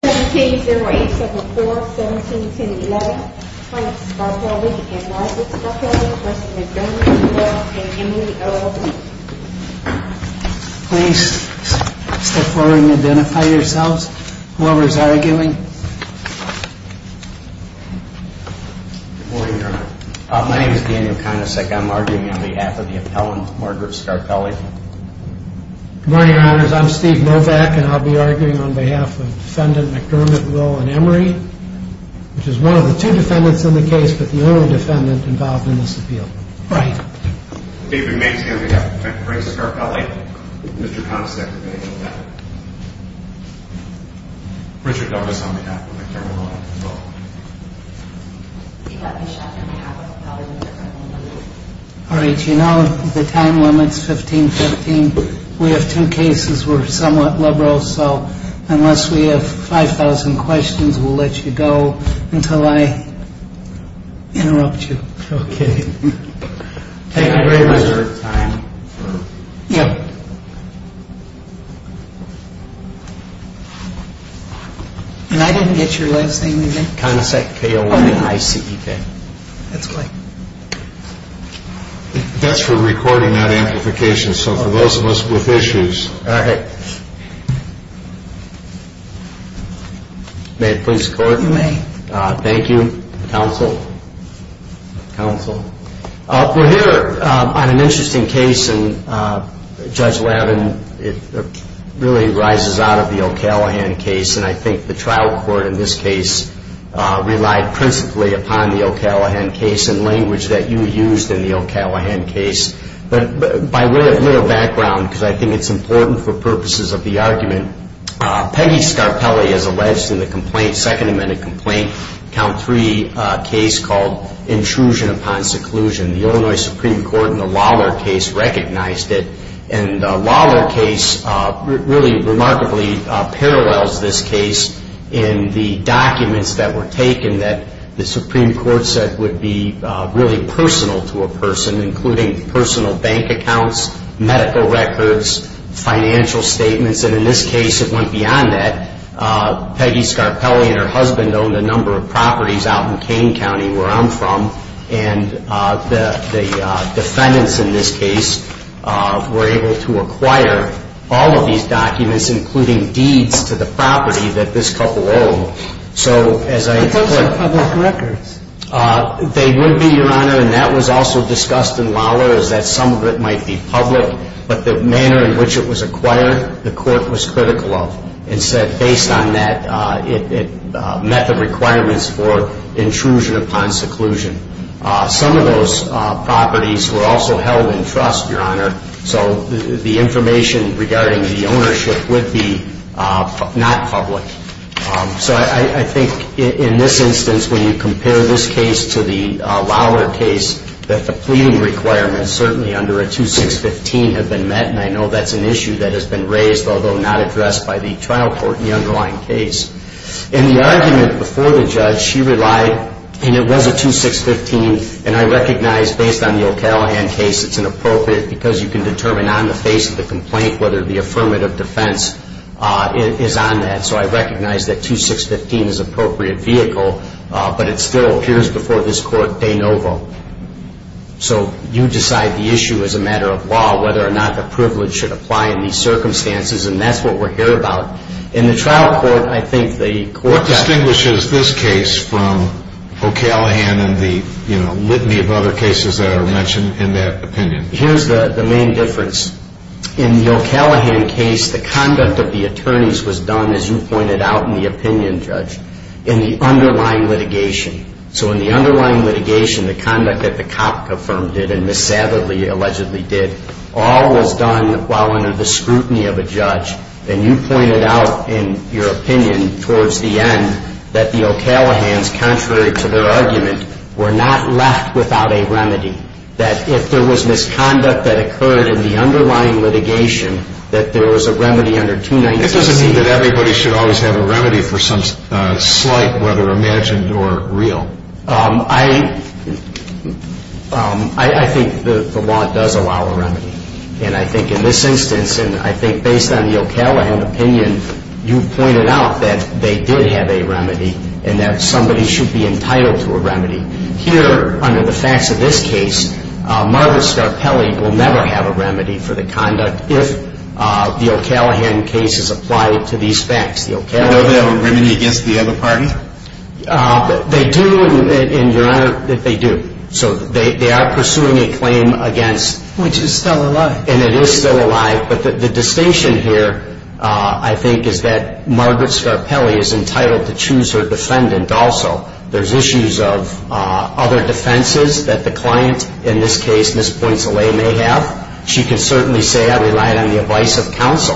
Please step forward and identify yourselves, whoever is arguing. Good morning, Your Honor. My name is Daniel Konicek. I'm arguing on behalf of the appellant, Margaret Scarpelli. Good morning, Your Honors. I'm Steve Novak, and I'll be arguing on behalf of Defendant McDermott, Will, and Emery, which is one of the two defendants in the case, but the only defendant involved in this appeal. Right. David Mason, on behalf of the defendant, Margaret Scarpelli. Mr. Konicek, on behalf of the defendant. Richard Douglass, on behalf of the defendant, Will, and Emery. All right. You know, the time limit's 15-15. We have two cases. We're somewhat liberal. So unless we have 5,000 questions, we'll let you go until I interrupt you. Okay. Thank you very much for your time. Yeah. And I didn't get your last name again. Konicek, K-O-N-I-C-E-K. That's right. That's for recording, not amplification, so for those of us with issues. All right. May it please the Court? You may. Thank you. Counsel? Counsel? We're here on an interesting case, and Judge Lavin, it really rises out of the O'Callaghan case, and I think the trial court in this case relied principally upon the O'Callaghan case and language that you used in the O'Callaghan case. But by way of little background, because I think it's important for purposes of the argument, Peggy Scarpelli is alleged in the complaint, Second Amendment complaint, count three case called Intrusion Upon Seclusion. The Illinois Supreme Court in the Lawler case recognized it, and the Lawler case really remarkably parallels this case in the documents that were taken that the Supreme Court said would be really personal to a person, including personal bank accounts, medical records, financial statements, and in this case it went beyond that. Peggy Scarpelli and her husband owned a number of properties out in Kane County, where I'm from, and the defendants in this case were able to acquire all of these documents, including deeds to the property that this couple owned. So as I... Those are public records. They would be, Your Honor, and that was also discussed in Lawler, is that some of it might be public, but the manner in which it was acquired, the court was critical of and said, based on that, it met the requirements for intrusion upon seclusion. Some of those properties were also held in trust, Your Honor, so the information regarding the ownership would be not public. So I think in this instance, when you compare this case to the Lawler case, that the pleading requirements, certainly under a 2615, have been met, and I know that's an issue that has been raised, although not addressed by the trial court in the underlying case. In the argument before the judge, she relied, and it was a 2615, and I recognize, based on the O'Callaghan case, it's inappropriate because you can determine on the face of the complaint whether the affirmative defense is on that. So I recognize that 2615 is an appropriate vehicle, but it still appears before this court de novo. So you decide the issue as a matter of law, whether or not the privilege should apply in these circumstances, and that's what we're here about. In the trial court, I think the court that ---- What distinguishes this case from O'Callaghan and the litany of other cases that are mentioned in that opinion? Here's the main difference. In the O'Callaghan case, the conduct of the attorneys was done, as you pointed out in the opinion, Judge, in the underlying litigation. So in the underlying litigation, the conduct that the cop confirmed it and Ms. Savidly allegedly did, all was done while under the scrutiny of a judge. And you pointed out in your opinion towards the end that the O'Callaghans, contrary to their argument, were not left without a remedy, that if there was misconduct that occurred in the underlying litigation, that there was a remedy under 296. It doesn't mean that everybody should always have a remedy for some slight, whether imagined or real. I think the law does allow a remedy. And I think in this instance, and I think based on the O'Callaghan opinion, you pointed out that they did have a remedy and that somebody should be entitled to a remedy. Here, under the facts of this case, Margaret Scarpelli will never have a remedy for the conduct if the O'Callaghan case is applied to these facts. Do you know they have a remedy against the other party? They do, and, Your Honor, they do. So they are pursuing a claim against. Which is still alive. And it is still alive. But the distinction here, I think, is that Margaret Scarpelli is entitled to choose her defendant also. There's issues of other defenses that the client, in this case, Ms. Poinselet may have. She can certainly say, I relied on the advice of counsel,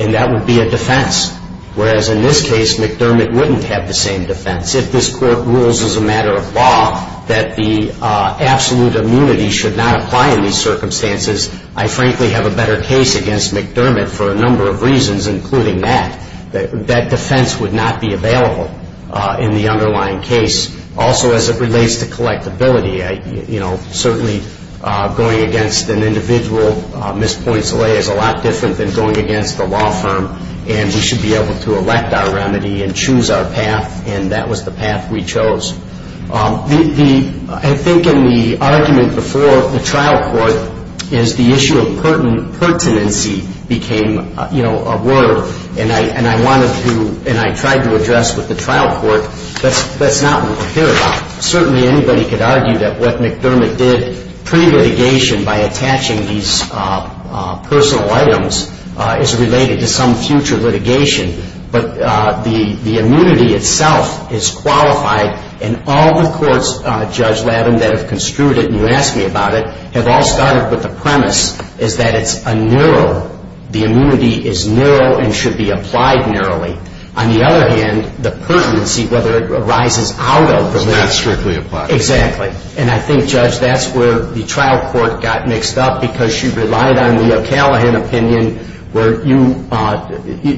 and that would be a defense. Whereas in this case, McDermott wouldn't have the same defense. If this Court rules as a matter of law that the absolute immunity should not apply in these circumstances, I frankly have a better case against McDermott for a number of reasons, including that. That defense would not be available in the underlying case. Also, as it relates to collectability, certainly going against an individual, Ms. Poinselet, is a lot different than going against the law firm. And we should be able to elect our remedy and choose our path. And that was the path we chose. I think in the argument before the trial court, is the issue of pertinency became a word. And I wanted to, and I tried to address with the trial court, that's not what we're here about. Certainly anybody could argue that what McDermott did pre-litigation by attaching these personal items is related to some future litigation. But the immunity itself is qualified, and all the courts, Judge Labin, that have construed it, and you asked me about it, have all started with the premise is that it's a narrow, the immunity is narrow and should be applied narrowly. On the other hand, the pertinency, whether it arises out of the limit. It's not strictly applied. Exactly. And I think, Judge, that's where the trial court got mixed up because you relied on the O'Callaghan opinion where you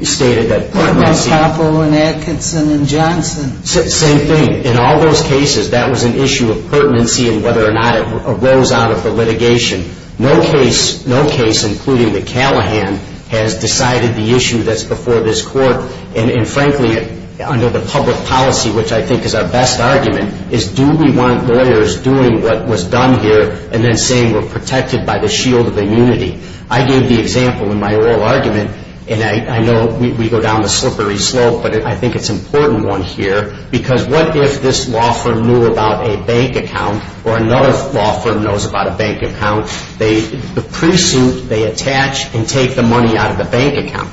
stated that pertinency. Thomas Hoppo and Atkinson and Johnson. Same thing. In all those cases, that was an issue of pertinency and whether or not it arose out of the litigation. No case, including the Callaghan, has decided the issue that's before this court. And frankly, under the public policy, which I think is our best argument, is do we want lawyers doing what was done here and then saying we're protected by the shield of immunity. I gave the example in my oral argument, and I know we go down the slippery slope but I think it's an important one here because what if this law firm knew about a bank account or another law firm knows about a bank account, the pre-suit they attach and take the money out of the bank account.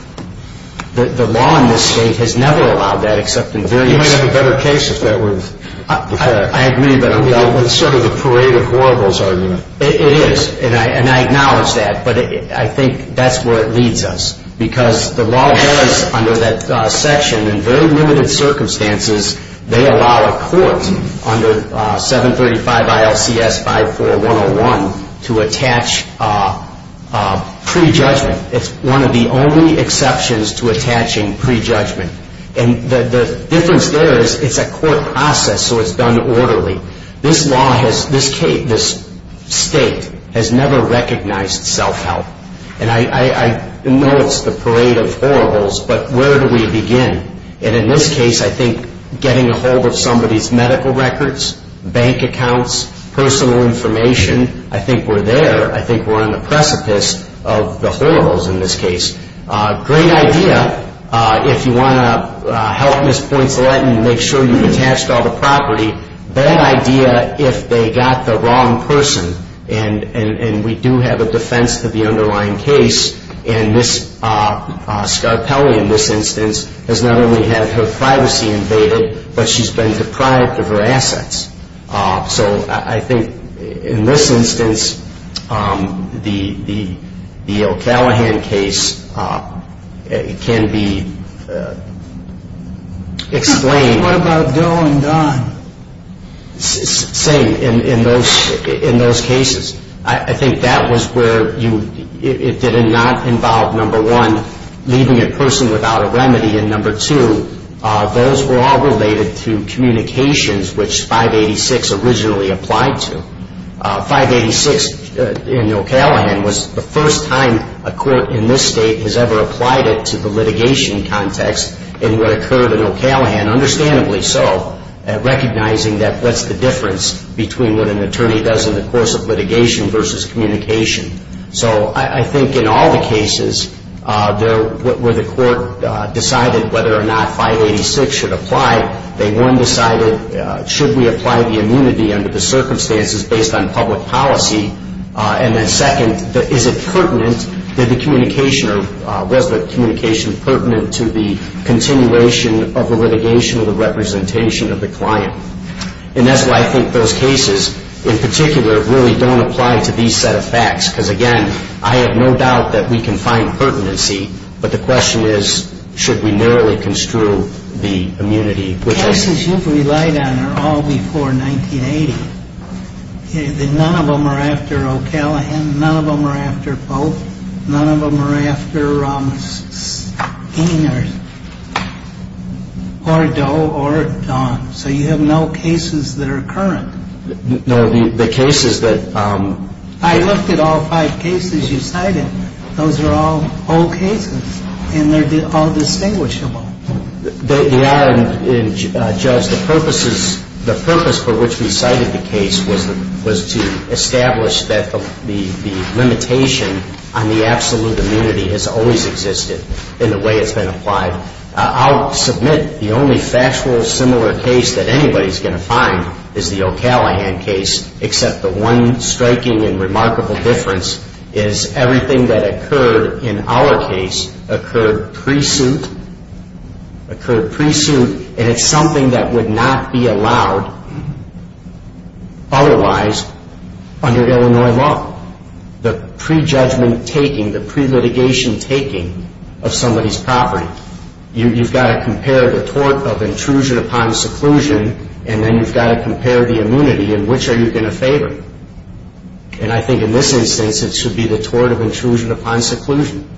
The law in this State has never allowed that except in various cases. I agree, but it's sort of the parade of horribles argument. It is, and I acknowledge that, but I think that's where it leads us because the law does under that section in very limited circumstances, they allow a court under 735 ILCS 54101 to attach pre-judgment. It's one of the only exceptions to attaching pre-judgment. And the difference there is it's a court process, so it's done orderly. This state has never recognized self-help. And I know it's the parade of horribles, but where do we begin? And in this case, I think getting a hold of somebody's medical records, bank accounts, personal information, I think we're there. I think we're on the precipice of the horribles in this case. Great idea if you want to help Ms. Poinsolet and make sure you've attached all the property. Bad idea if they got the wrong person, and we do have a defense to the underlying case. And Ms. Scarpelli, in this instance, has not only had her privacy invaded, but she's been deprived of her assets. So I think in this instance, the O'Callaghan case can be explained. What about Doe and Don? Same in those cases. I think that was where it did not involve, number one, leaving a person without a remedy, and number two, those were all related to communications, which 586 originally applied to. 586 in O'Callaghan was the first time a court in this state has ever applied it to the litigation context in what occurred in O'Callaghan, understandably so, recognizing that that's the difference between what an attorney does in the course of litigation versus communication. So I think in all the cases where the court decided whether or not 586 should apply, they, one, decided should we apply the immunity under the circumstances based on public policy, and then second, is it pertinent, was the communication pertinent to the continuation of the litigation or the representation of the client? And that's why I think those cases, in particular, really don't apply to these set of facts, because, again, I have no doubt that we can find pertinency, but the question is, should we narrowly construe the immunity? The cases you've relied on are all before 1980. None of them are after O'Callaghan. None of them are after both. None of them are after King or Doe or Don. So you have no cases that are current. No, the cases that ‑‑ I looked at all five cases you cited. Those are all old cases, and they're all distinguishable. They are, and, Judge, the purposes, the purpose for which we cited the case was to establish that the limitation on the absolute immunity has always existed in the way it's been applied. I'll submit the only factual similar case that anybody's going to find is the O'Callaghan case, except the one striking and remarkable difference is everything that occurred in our case occurred pre-suit. Occurred pre-suit, and it's something that would not be allowed otherwise under Illinois law. The pre-judgment taking, the pre-litigation taking of somebody's property, you've got to compare the tort of intrusion upon seclusion, and then you've got to compare the immunity, and which are you going to favor? And I think in this instance, it should be the tort of intrusion upon seclusion.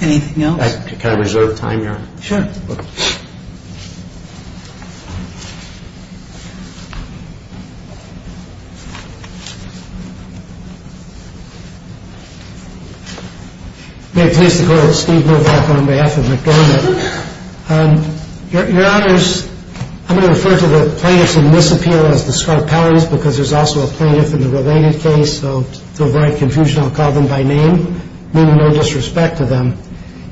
Anything else? Can I reserve time here? Sure. I'm going to refer to the plaintiffs in this appeal as the Scarpellies, because there's also a plaintiff in the related case, so to avoid confusion, I'll call them by name, meaning no disrespect to them.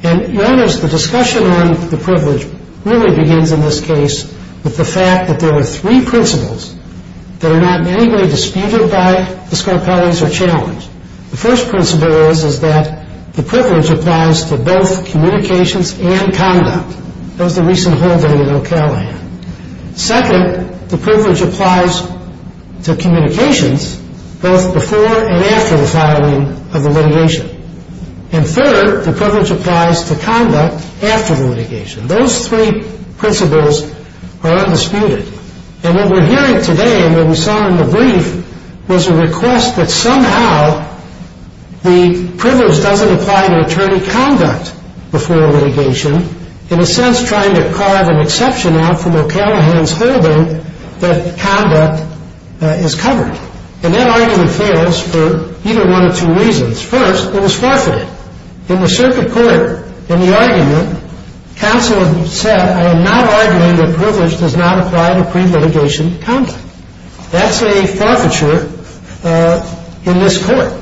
And, Your Honors, the discussion on the privilege really begins in this case with the fact that there are three principles that are not in any case in the case of the Scarpellies. The first principle is that the privilege applies to both communications and conduct. That was the recent hold that we had at O'Callaghan. Second, the privilege applies to communications both before and after the filing of the litigation. And third, the privilege applies to conduct after the litigation. Those three principles are undisputed. And what we're hearing today, and what we saw in the brief, was a request that somehow the privilege doesn't apply to attorney conduct before a litigation, in a sense trying to carve an exception out from O'Callaghan's holding that conduct is covered. And that argument fails for either one of two reasons. First, it was forfeited. In the circuit court, in the argument, counsel had said, I am not arguing that privilege does not apply to pre-litigation conduct. That's a forfeiture in this court.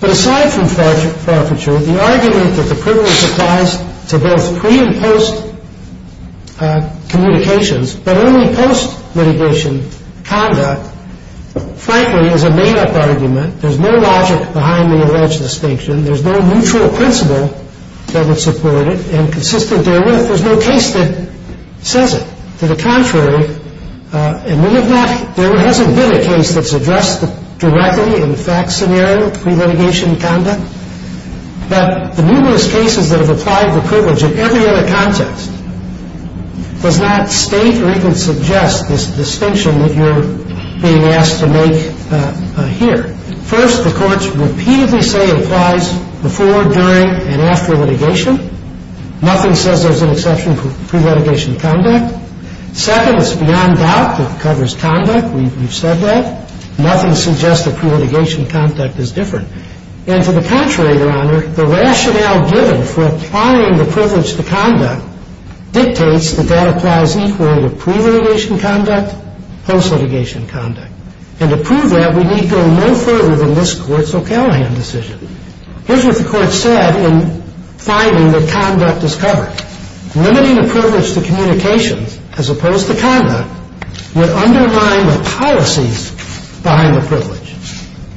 But aside from forfeiture, the argument that the privilege applies to both pre- and post-communications, but only post-litigation conduct, frankly, is a made-up argument. There's no logic behind the alleged distinction. There's no neutral principle that would support it. And consistent therewith, there's no case that says it. To the contrary, and we have not, there hasn't been a case that's addressed directly in fact scenario pre-litigation conduct. But the numerous cases that have applied the privilege in every other context does not state or even suggest this distinction that you're being asked to make here. First, the courts repeatedly say it applies before, during, and after litigation. Nothing says there's an exception for pre-litigation conduct. Second, it's beyond doubt that it covers conduct. We've said that. Nothing suggests that pre-litigation conduct is different. And to the contrary, Your Honor, the rationale given for applying the privilege to conduct dictates that that applies equally to pre-litigation conduct, post-litigation conduct. And to prove that, we need go no further than this Court's O'Callaghan decision. Here's what the Court said in finding that conduct is covered. Limiting the privilege to communications, as opposed to conduct, would undermine the policies behind the privilege.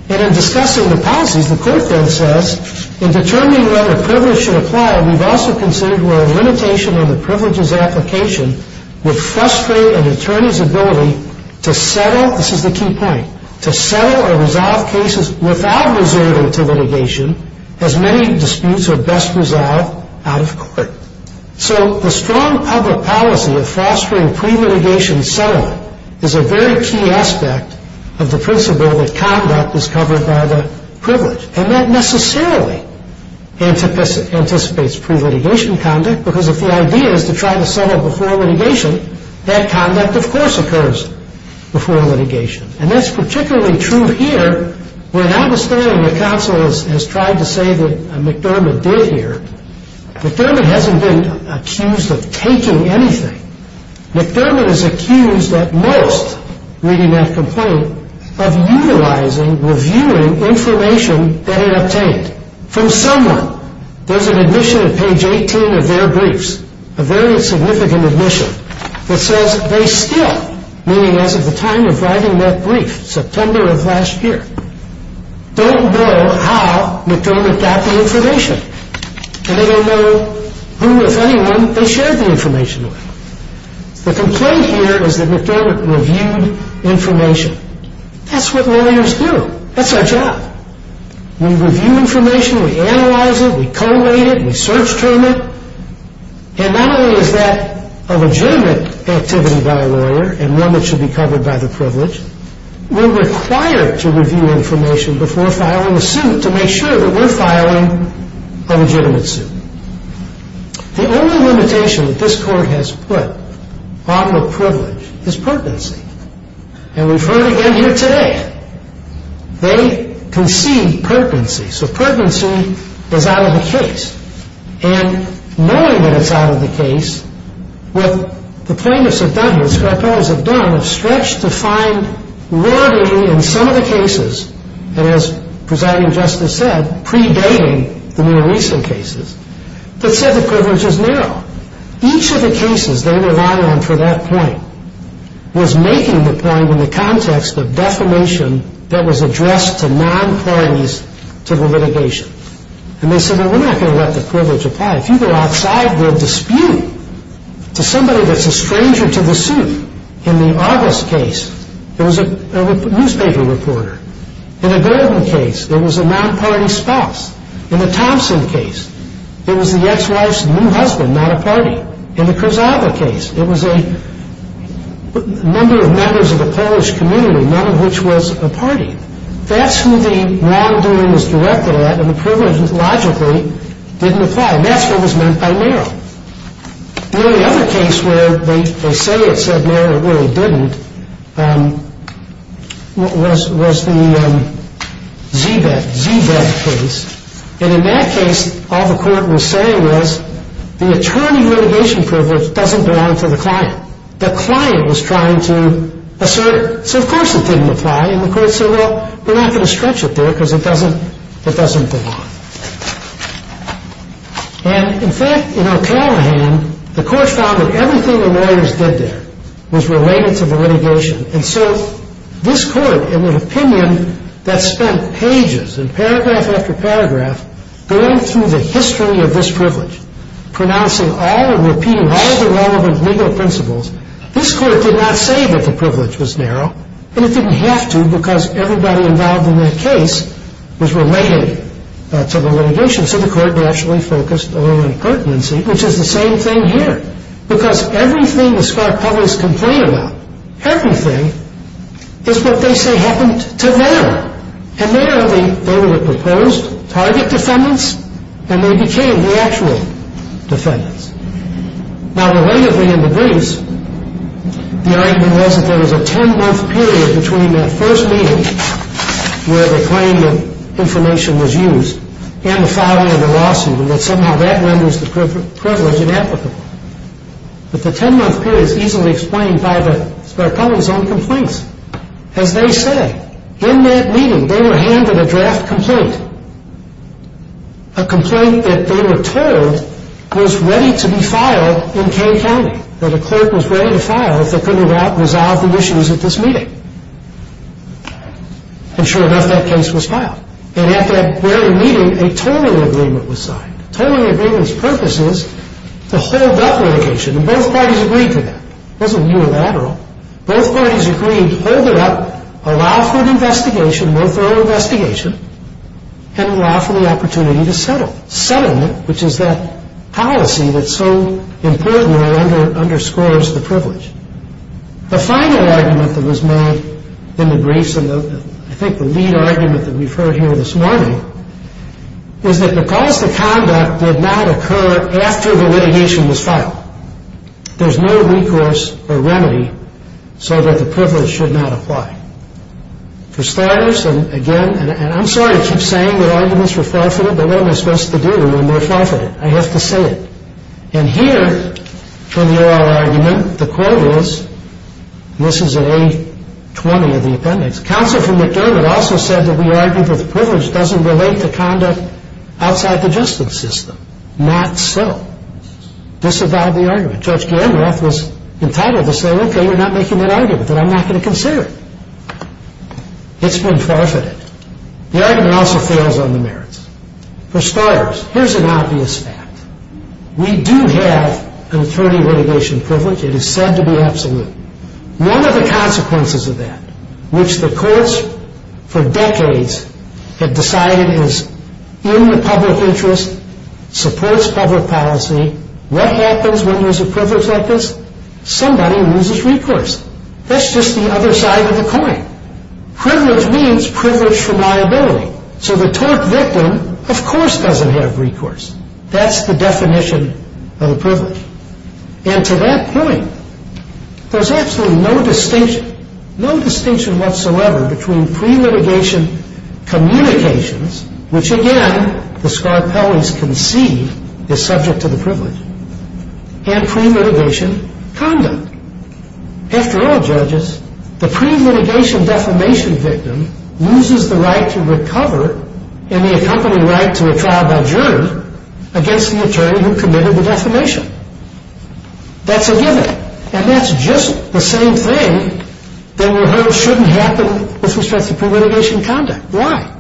And in discussing the policies, the Court then says, in determining whether privilege should apply, we've also considered where a limitation on the privilege's application would frustrate an attorney's ability to settle. This is the key point. To settle or resolve cases without resorting to litigation, as many disputes are best resolved out of court. So the strong public policy of fostering pre-litigation settlement is a very key aspect of the principle that conduct is covered by the privilege. And that necessarily anticipates pre-litigation conduct, because if the idea is to try to settle before litigation, that conduct, of course, occurs before litigation. And that's particularly true here, where, notwithstanding the counsel has tried to say that McDermott did here, McDermott hasn't been accused of taking anything. McDermott is accused at most, reading that complaint, of utilizing, reviewing information that he obtained from someone. There's an admission at page 18 of their briefs, a very significant admission, that says they still, meaning as of the time of writing that brief, September of last year, don't know how McDermott got the information. And they don't know who, if anyone, they shared the information with. The complaint here is that McDermott reviewed information. That's what lawyers do. That's our job. We review information. We analyze it. We collate it. We search-train it. And not only is that a legitimate activity by a lawyer, and one that should be covered by the privilege, we're required to review information before filing a suit to make sure that we're filing a legitimate suit. The only limitation that this Court has put on the privilege is pertinency. And we've heard it again here today. They concede pertinency. So pertinency is out of the case. And knowing that it's out of the case, what the plaintiffs have done here, the strippers have done, have stretched to find rarity in some of the cases, and as Presiding Justice said, predating the more recent cases, that said the privilege is narrow. Each of the cases they rely on for that point was making the point in the context of defamation that was addressed to non-parties to the litigation. And they said, well, we're not going to let the privilege apply. If you go outside, we'll dispute to somebody that's a stranger to the suit. In the August case, it was a newspaper reporter. In the Gordon case, it was a non-party spouse. In the Thompson case, it was the ex-wife's new husband, not a party. In the Krasava case, it was a number of members of the Polish community, none of which was a party. That's who the wrongdoing was directed at, and the privilege logically didn't apply. And that's what was meant by narrow. The only other case where they say it said narrow, it really didn't, was the Z-Bev case. And in that case, all the court was saying was the attorney litigation privilege doesn't belong to the client. The client was trying to assert, so of course it didn't apply, and the court said, well, we're not going to stretch it there because it doesn't belong. And, in fact, in O'Callaghan, the court found that everything the lawyers did there was related to the litigation. And so this court, in an opinion that spent pages and paragraph after paragraph going through the history of this privilege, pronouncing all and repeating all the relevant legal principles, this court did not say that the privilege was narrow, and it didn't have to because everybody involved in that case was related to the litigation, so the court rationally focused a little on pertinency, which is the same thing here, because everything the spark publics complain about, everything, is what they say happened to narrow. And narrow, they were the proposed target defendants, and they became the actual defendants. Now, relatively in the briefs, the argument was that there was a ten-month period between that first meeting, where the claim of information was used, and the filing of the lawsuit, and that somehow that renders the privilege inapplicable. But the ten-month period is easily explained by the spark public's own complaints. As they say, in that meeting, they were handed a draft complaint, a complaint that they were told was ready to be filed in Kane County, that a clerk was ready to file if they couldn't resolve the issues at this meeting. And sure enough, that case was filed. And at that very meeting, a tolling agreement was signed. A tolling agreement's purpose is to hold up litigation, and both parties agreed to that. It wasn't unilateral. Both parties agreed to hold it up, allow for an investigation, more thorough investigation, and allow for the opportunity to settle. Settlement, which is that policy that so importantly underscores the privilege. The final argument that was made in the briefs, and I think the lead argument that we've heard here this morning, is that because the conduct did not occur after the litigation was filed, there's no recourse or remedy so that the privilege should not apply. For starters, and again, and I'm sorry to keep saying that arguments were forfeited, but what am I supposed to do when they're forfeited? I have to say it. And here, from the oral argument, the quote is, and this is in A20 of the appendix, counsel from McDermott also said that we argued that the privilege doesn't relate to conduct outside the justice system. Not so. Disavowed the argument. Judge Gandolf was entitled to say, okay, you're not making that argument, then I'm not going to consider it. It's been forfeited. The argument also fails on the merits. For starters, here's an obvious fact. We do have an attorney litigation privilege. It is said to be absolute. One of the consequences of that, which the courts for decades have decided is in the public interest, supports public policy, what happens when there's a privilege like this? Somebody loses recourse. That's just the other side of the coin. Privilege means privilege for liability. So the tort victim, of course, doesn't have recourse. That's the definition of a privilege. And to that point, there's absolutely no distinction, no distinction whatsoever between pre-litigation communications, which, again, the Scarpelli's concede is subject to the privilege, and pre-litigation conduct. After all, judges, the pre-litigation defamation victim loses the right to recover and the accompanying right to a trial by jury against the attorney who committed the defamation. That's a given. And that's just the same thing that we're heard shouldn't happen with respect to pre-litigation conduct. Why?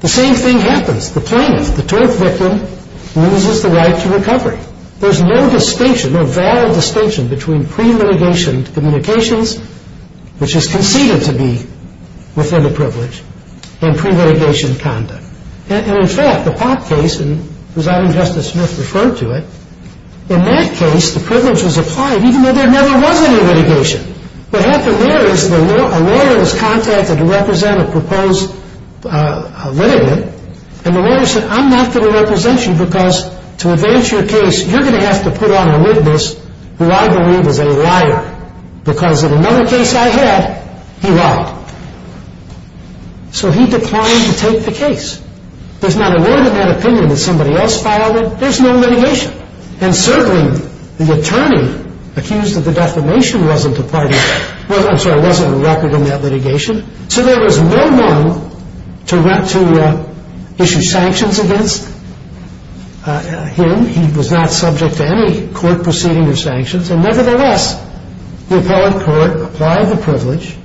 The same thing happens. The plaintiff, the tort victim, loses the right to recovery. There's no distinction, no valid distinction between pre-litigation communications, which is conceded to be within the privilege, and pre-litigation conduct. And, in fact, the Pop case, and Resounding Justice Smith referred to it, in that case the privilege was applied even though there never was any litigation. What happened there is a lawyer was contacted to represent a proposed litigant, and the lawyer said, I'm not going to represent you because to advance your case, you're going to have to put on a witness who I believe is a liar, because in another case I had, he lied. So he declined to take the case. There's not a word in that opinion that somebody else filed it. There's no litigation. And certainly the attorney accused of the defamation wasn't a record in that litigation. So there was no one to issue sanctions against him. He was not subject to any court proceeding or sanctions. And, nevertheless, the appellate court applied the privilege,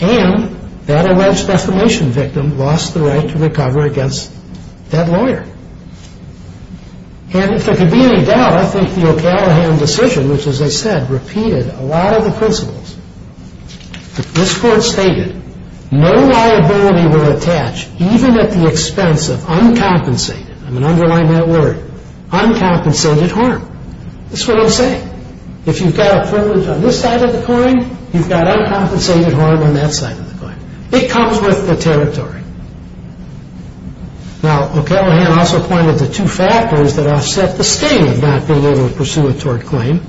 and that alleged defamation victim lost the right to recover against that lawyer. And if there could be any doubt, I think the O'Callaghan decision, which, as I said, repeated a lot of the principles. This court stated, no liability will attach, even at the expense of uncompensated, I'm going to underline that word, uncompensated harm. That's what I'm saying. If you've got a privilege on this side of the coin, you've got uncompensated harm on that side of the coin. It comes with the territory. Now, O'Callaghan also pointed to two factors that offset the state of not being able to pursue a tort claim.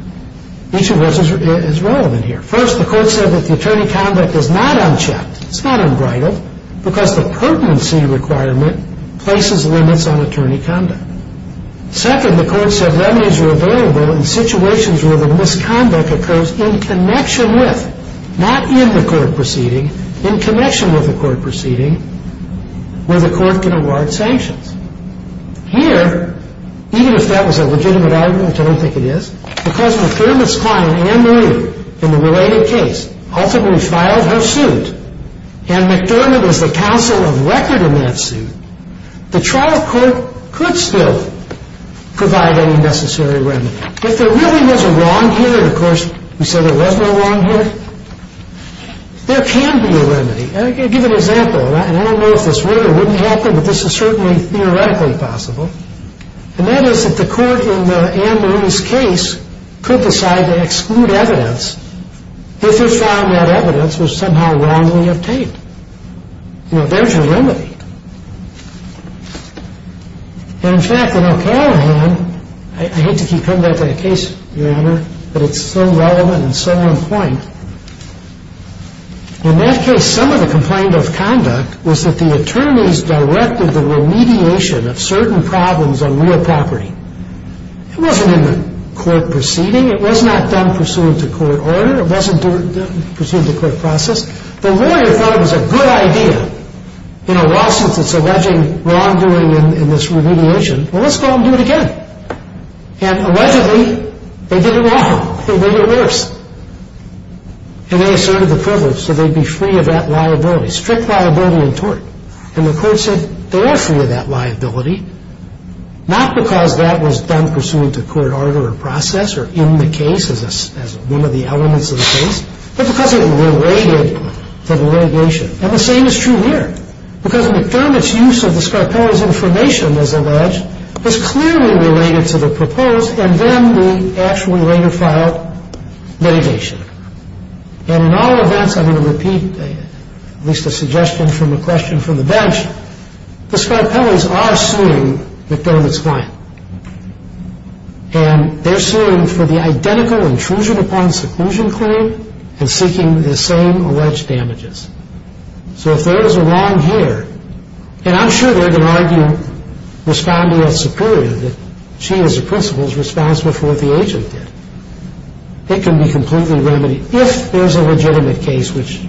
Each of those is relevant here. First, the court said that the attorney conduct is not unchecked, it's not unbridled, because the pertinency requirement places limits on attorney conduct. Second, the court said remedies were available in situations where the misconduct occurs in connection with, not in the court proceeding, in connection with the court proceeding, where the court can award sanctions. Here, even if that was a legitimate argument, I don't think it is, because McDermott's client, Ann Marie, in the related case, ultimately filed her suit, and McDermott is the counsel of record in that suit, the trial court could still provide any necessary remedy. If there really was a wrong here, and, of course, we said there was no wrong here, there can be a remedy. I'll give an example, and I don't know if this would or wouldn't happen, but this is certainly theoretically possible, and that is that the court in Ann Marie's case could decide to exclude evidence if it found that evidence was somehow wrongly obtained. You know, there's your remedy. And, in fact, in O'Callaghan, I hate to keep coming back to that case, Your Honor, but it's so relevant and so on point. In that case, some of the complaint of conduct was that the attorneys directed the remediation of certain problems on real property. It wasn't in the court proceeding. It was not done pursuant to court order. It wasn't done pursuant to court process. The lawyer thought it was a good idea in a lawsuit that's alleging wrongdoing in this remediation. Well, let's go out and do it again. And, allegedly, they did it wrong. They did it worse. And they asserted the privilege so they'd be free of that liability, strict liability in tort. And the court said they were free of that liability, not because that was done pursuant to court order or process or in the case as one of the elements of the case, but because it related to the remediation. And the same is true here, because McDermott's use of the Scarpelli's information, as alleged, is clearly related to the proposed, and then we actually later filed mediation. And in all events, I'm going to repeat at least a suggestion from a question from the bench, the Scarpelli's are suing McDermott's client. And they're suing for the identical intrusion upon seclusion claim and seeking the same alleged damages. So if there is a wrong here, and I'm sure they're going to argue, responding as superior, that she as a principal's response before the agent did. It can be completely remedied if there's a legitimate case, which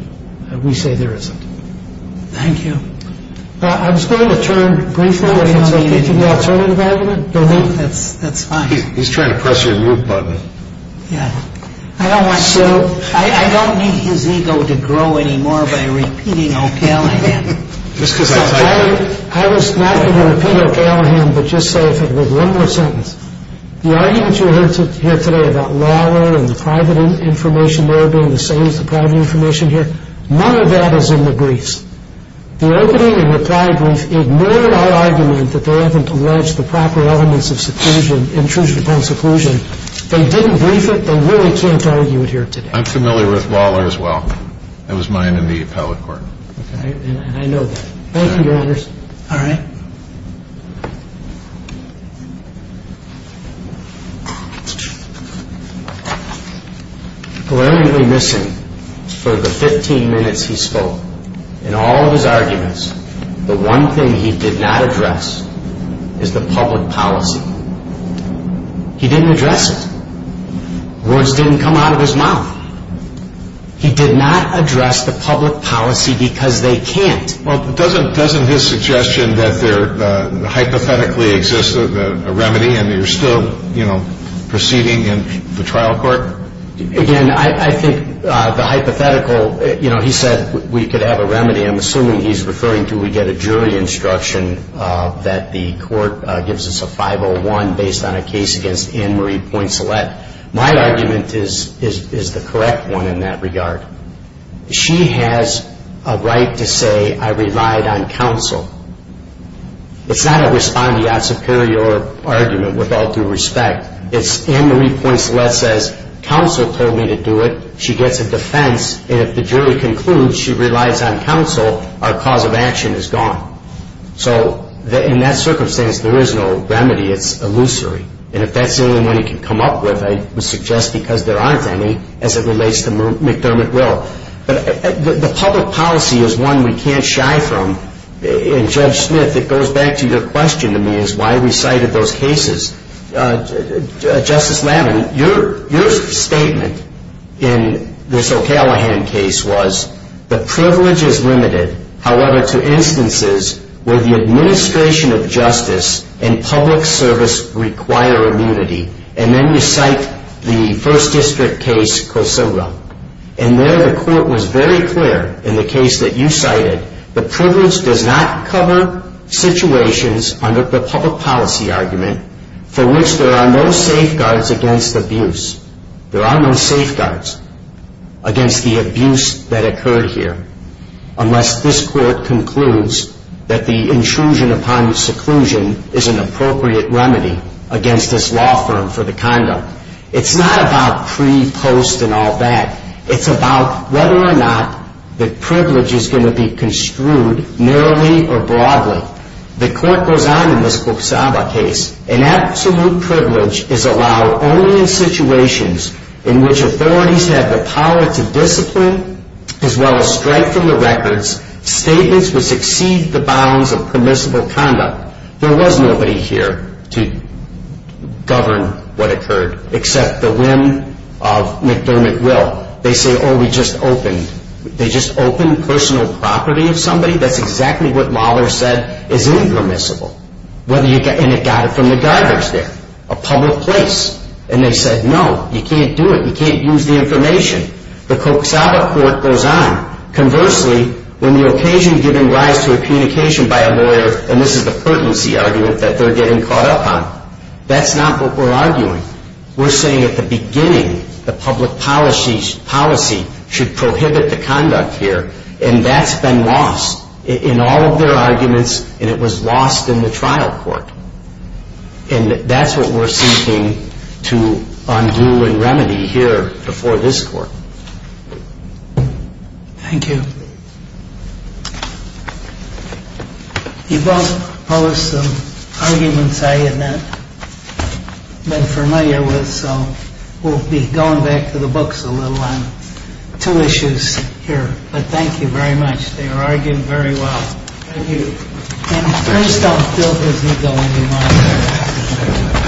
we say there isn't. Thank you. I was going to turn briefly to the alternative argument. That's fine. He's trying to press your mute button. Yeah. I don't want to. I don't need his ego to grow anymore by repeating O'Callaghan. I was not going to repeat O'Callaghan, but just say if it was one more sentence. The argument you heard here today about Lawler and the private information there being the same as the private information here, none of that is in the briefs. The opening and reply brief ignored our argument that they haven't alleged the proper elements of seclusion, intrusion upon seclusion. They didn't brief it. They really can't argue it here today. I'm familiar with Lawler as well. That was mine in the appellate court. Okay. And I know that. Thank you, Your Honor. All right. Glaringly missing for the 15 minutes he spoke in all of his arguments, the one thing he did not address is the public policy. He didn't address it. Words didn't come out of his mouth. He did not address the public policy because they can't. Well, doesn't his suggestion that there hypothetically exists a remedy and you're still, you know, proceeding in the trial court? Again, I think the hypothetical, you know, he said we could have a remedy. I'm assuming he's referring to we get a jury instruction that the court gives us a 501 based on a case against Anne Marie Poinselet. My argument is the correct one in that regard. She has a right to say I relied on counsel. It's not a respondeat superior argument with all due respect. It's Anne Marie Poinselet says counsel told me to do it. She gets a defense, and if the jury concludes she relies on counsel, our cause of action is gone. So in that circumstance, there is no remedy. It's illusory. And if that's the only one he can come up with, I would suggest because there aren't any as it relates to McDermott Will. But the public policy is one we can't shy from. And Judge Smith, it goes back to your question to me is why we cited those cases. Justice Lavin, your statement in this O'Callaghan case was the privilege is limited, however, to instances where the administration of justice and public service require immunity. And then you cite the first district case Kosoga. And there the court was very clear in the case that you cited. The privilege does not cover situations under the public policy argument for which there are no safeguards against abuse. There are no safeguards against the abuse that occurred here unless this court concludes that the intrusion upon seclusion is an appropriate remedy against this law firm for the condo. It's not about pre, post, and all that. It's about whether or not the privilege is going to be construed narrowly or broadly. The court goes on in this Kosoga case. An absolute privilege is allowed only in situations in which authorities have the power to discipline as well as strike from the records statements which exceed the bounds of permissible conduct. There was nobody here to govern what occurred except the whim of McDermott Will. They say, oh, we just opened. They just opened personal property of somebody. That's exactly what Mahler said is impermissible. And it got it from the guards there, a public place. And they said, no, you can't do it. You can't use the information. The Kosoga court goes on. Conversely, when the occasion given rise to a communication by a lawyer, and this is the pertinency argument that they're getting caught up on, that's not what we're arguing. We're saying at the beginning the public policy should prohibit the conduct here, and that's been lost in all of their arguments, and it was lost in the trial court. And that's what we're seeking to undo and remedy here before this court. Thank you. You both posed some arguments I had not been familiar with, so we'll be going back to the books a little on two issues here. But thank you very much. They were argued very well. Thank you. And first, I'll fill this ego in your mind.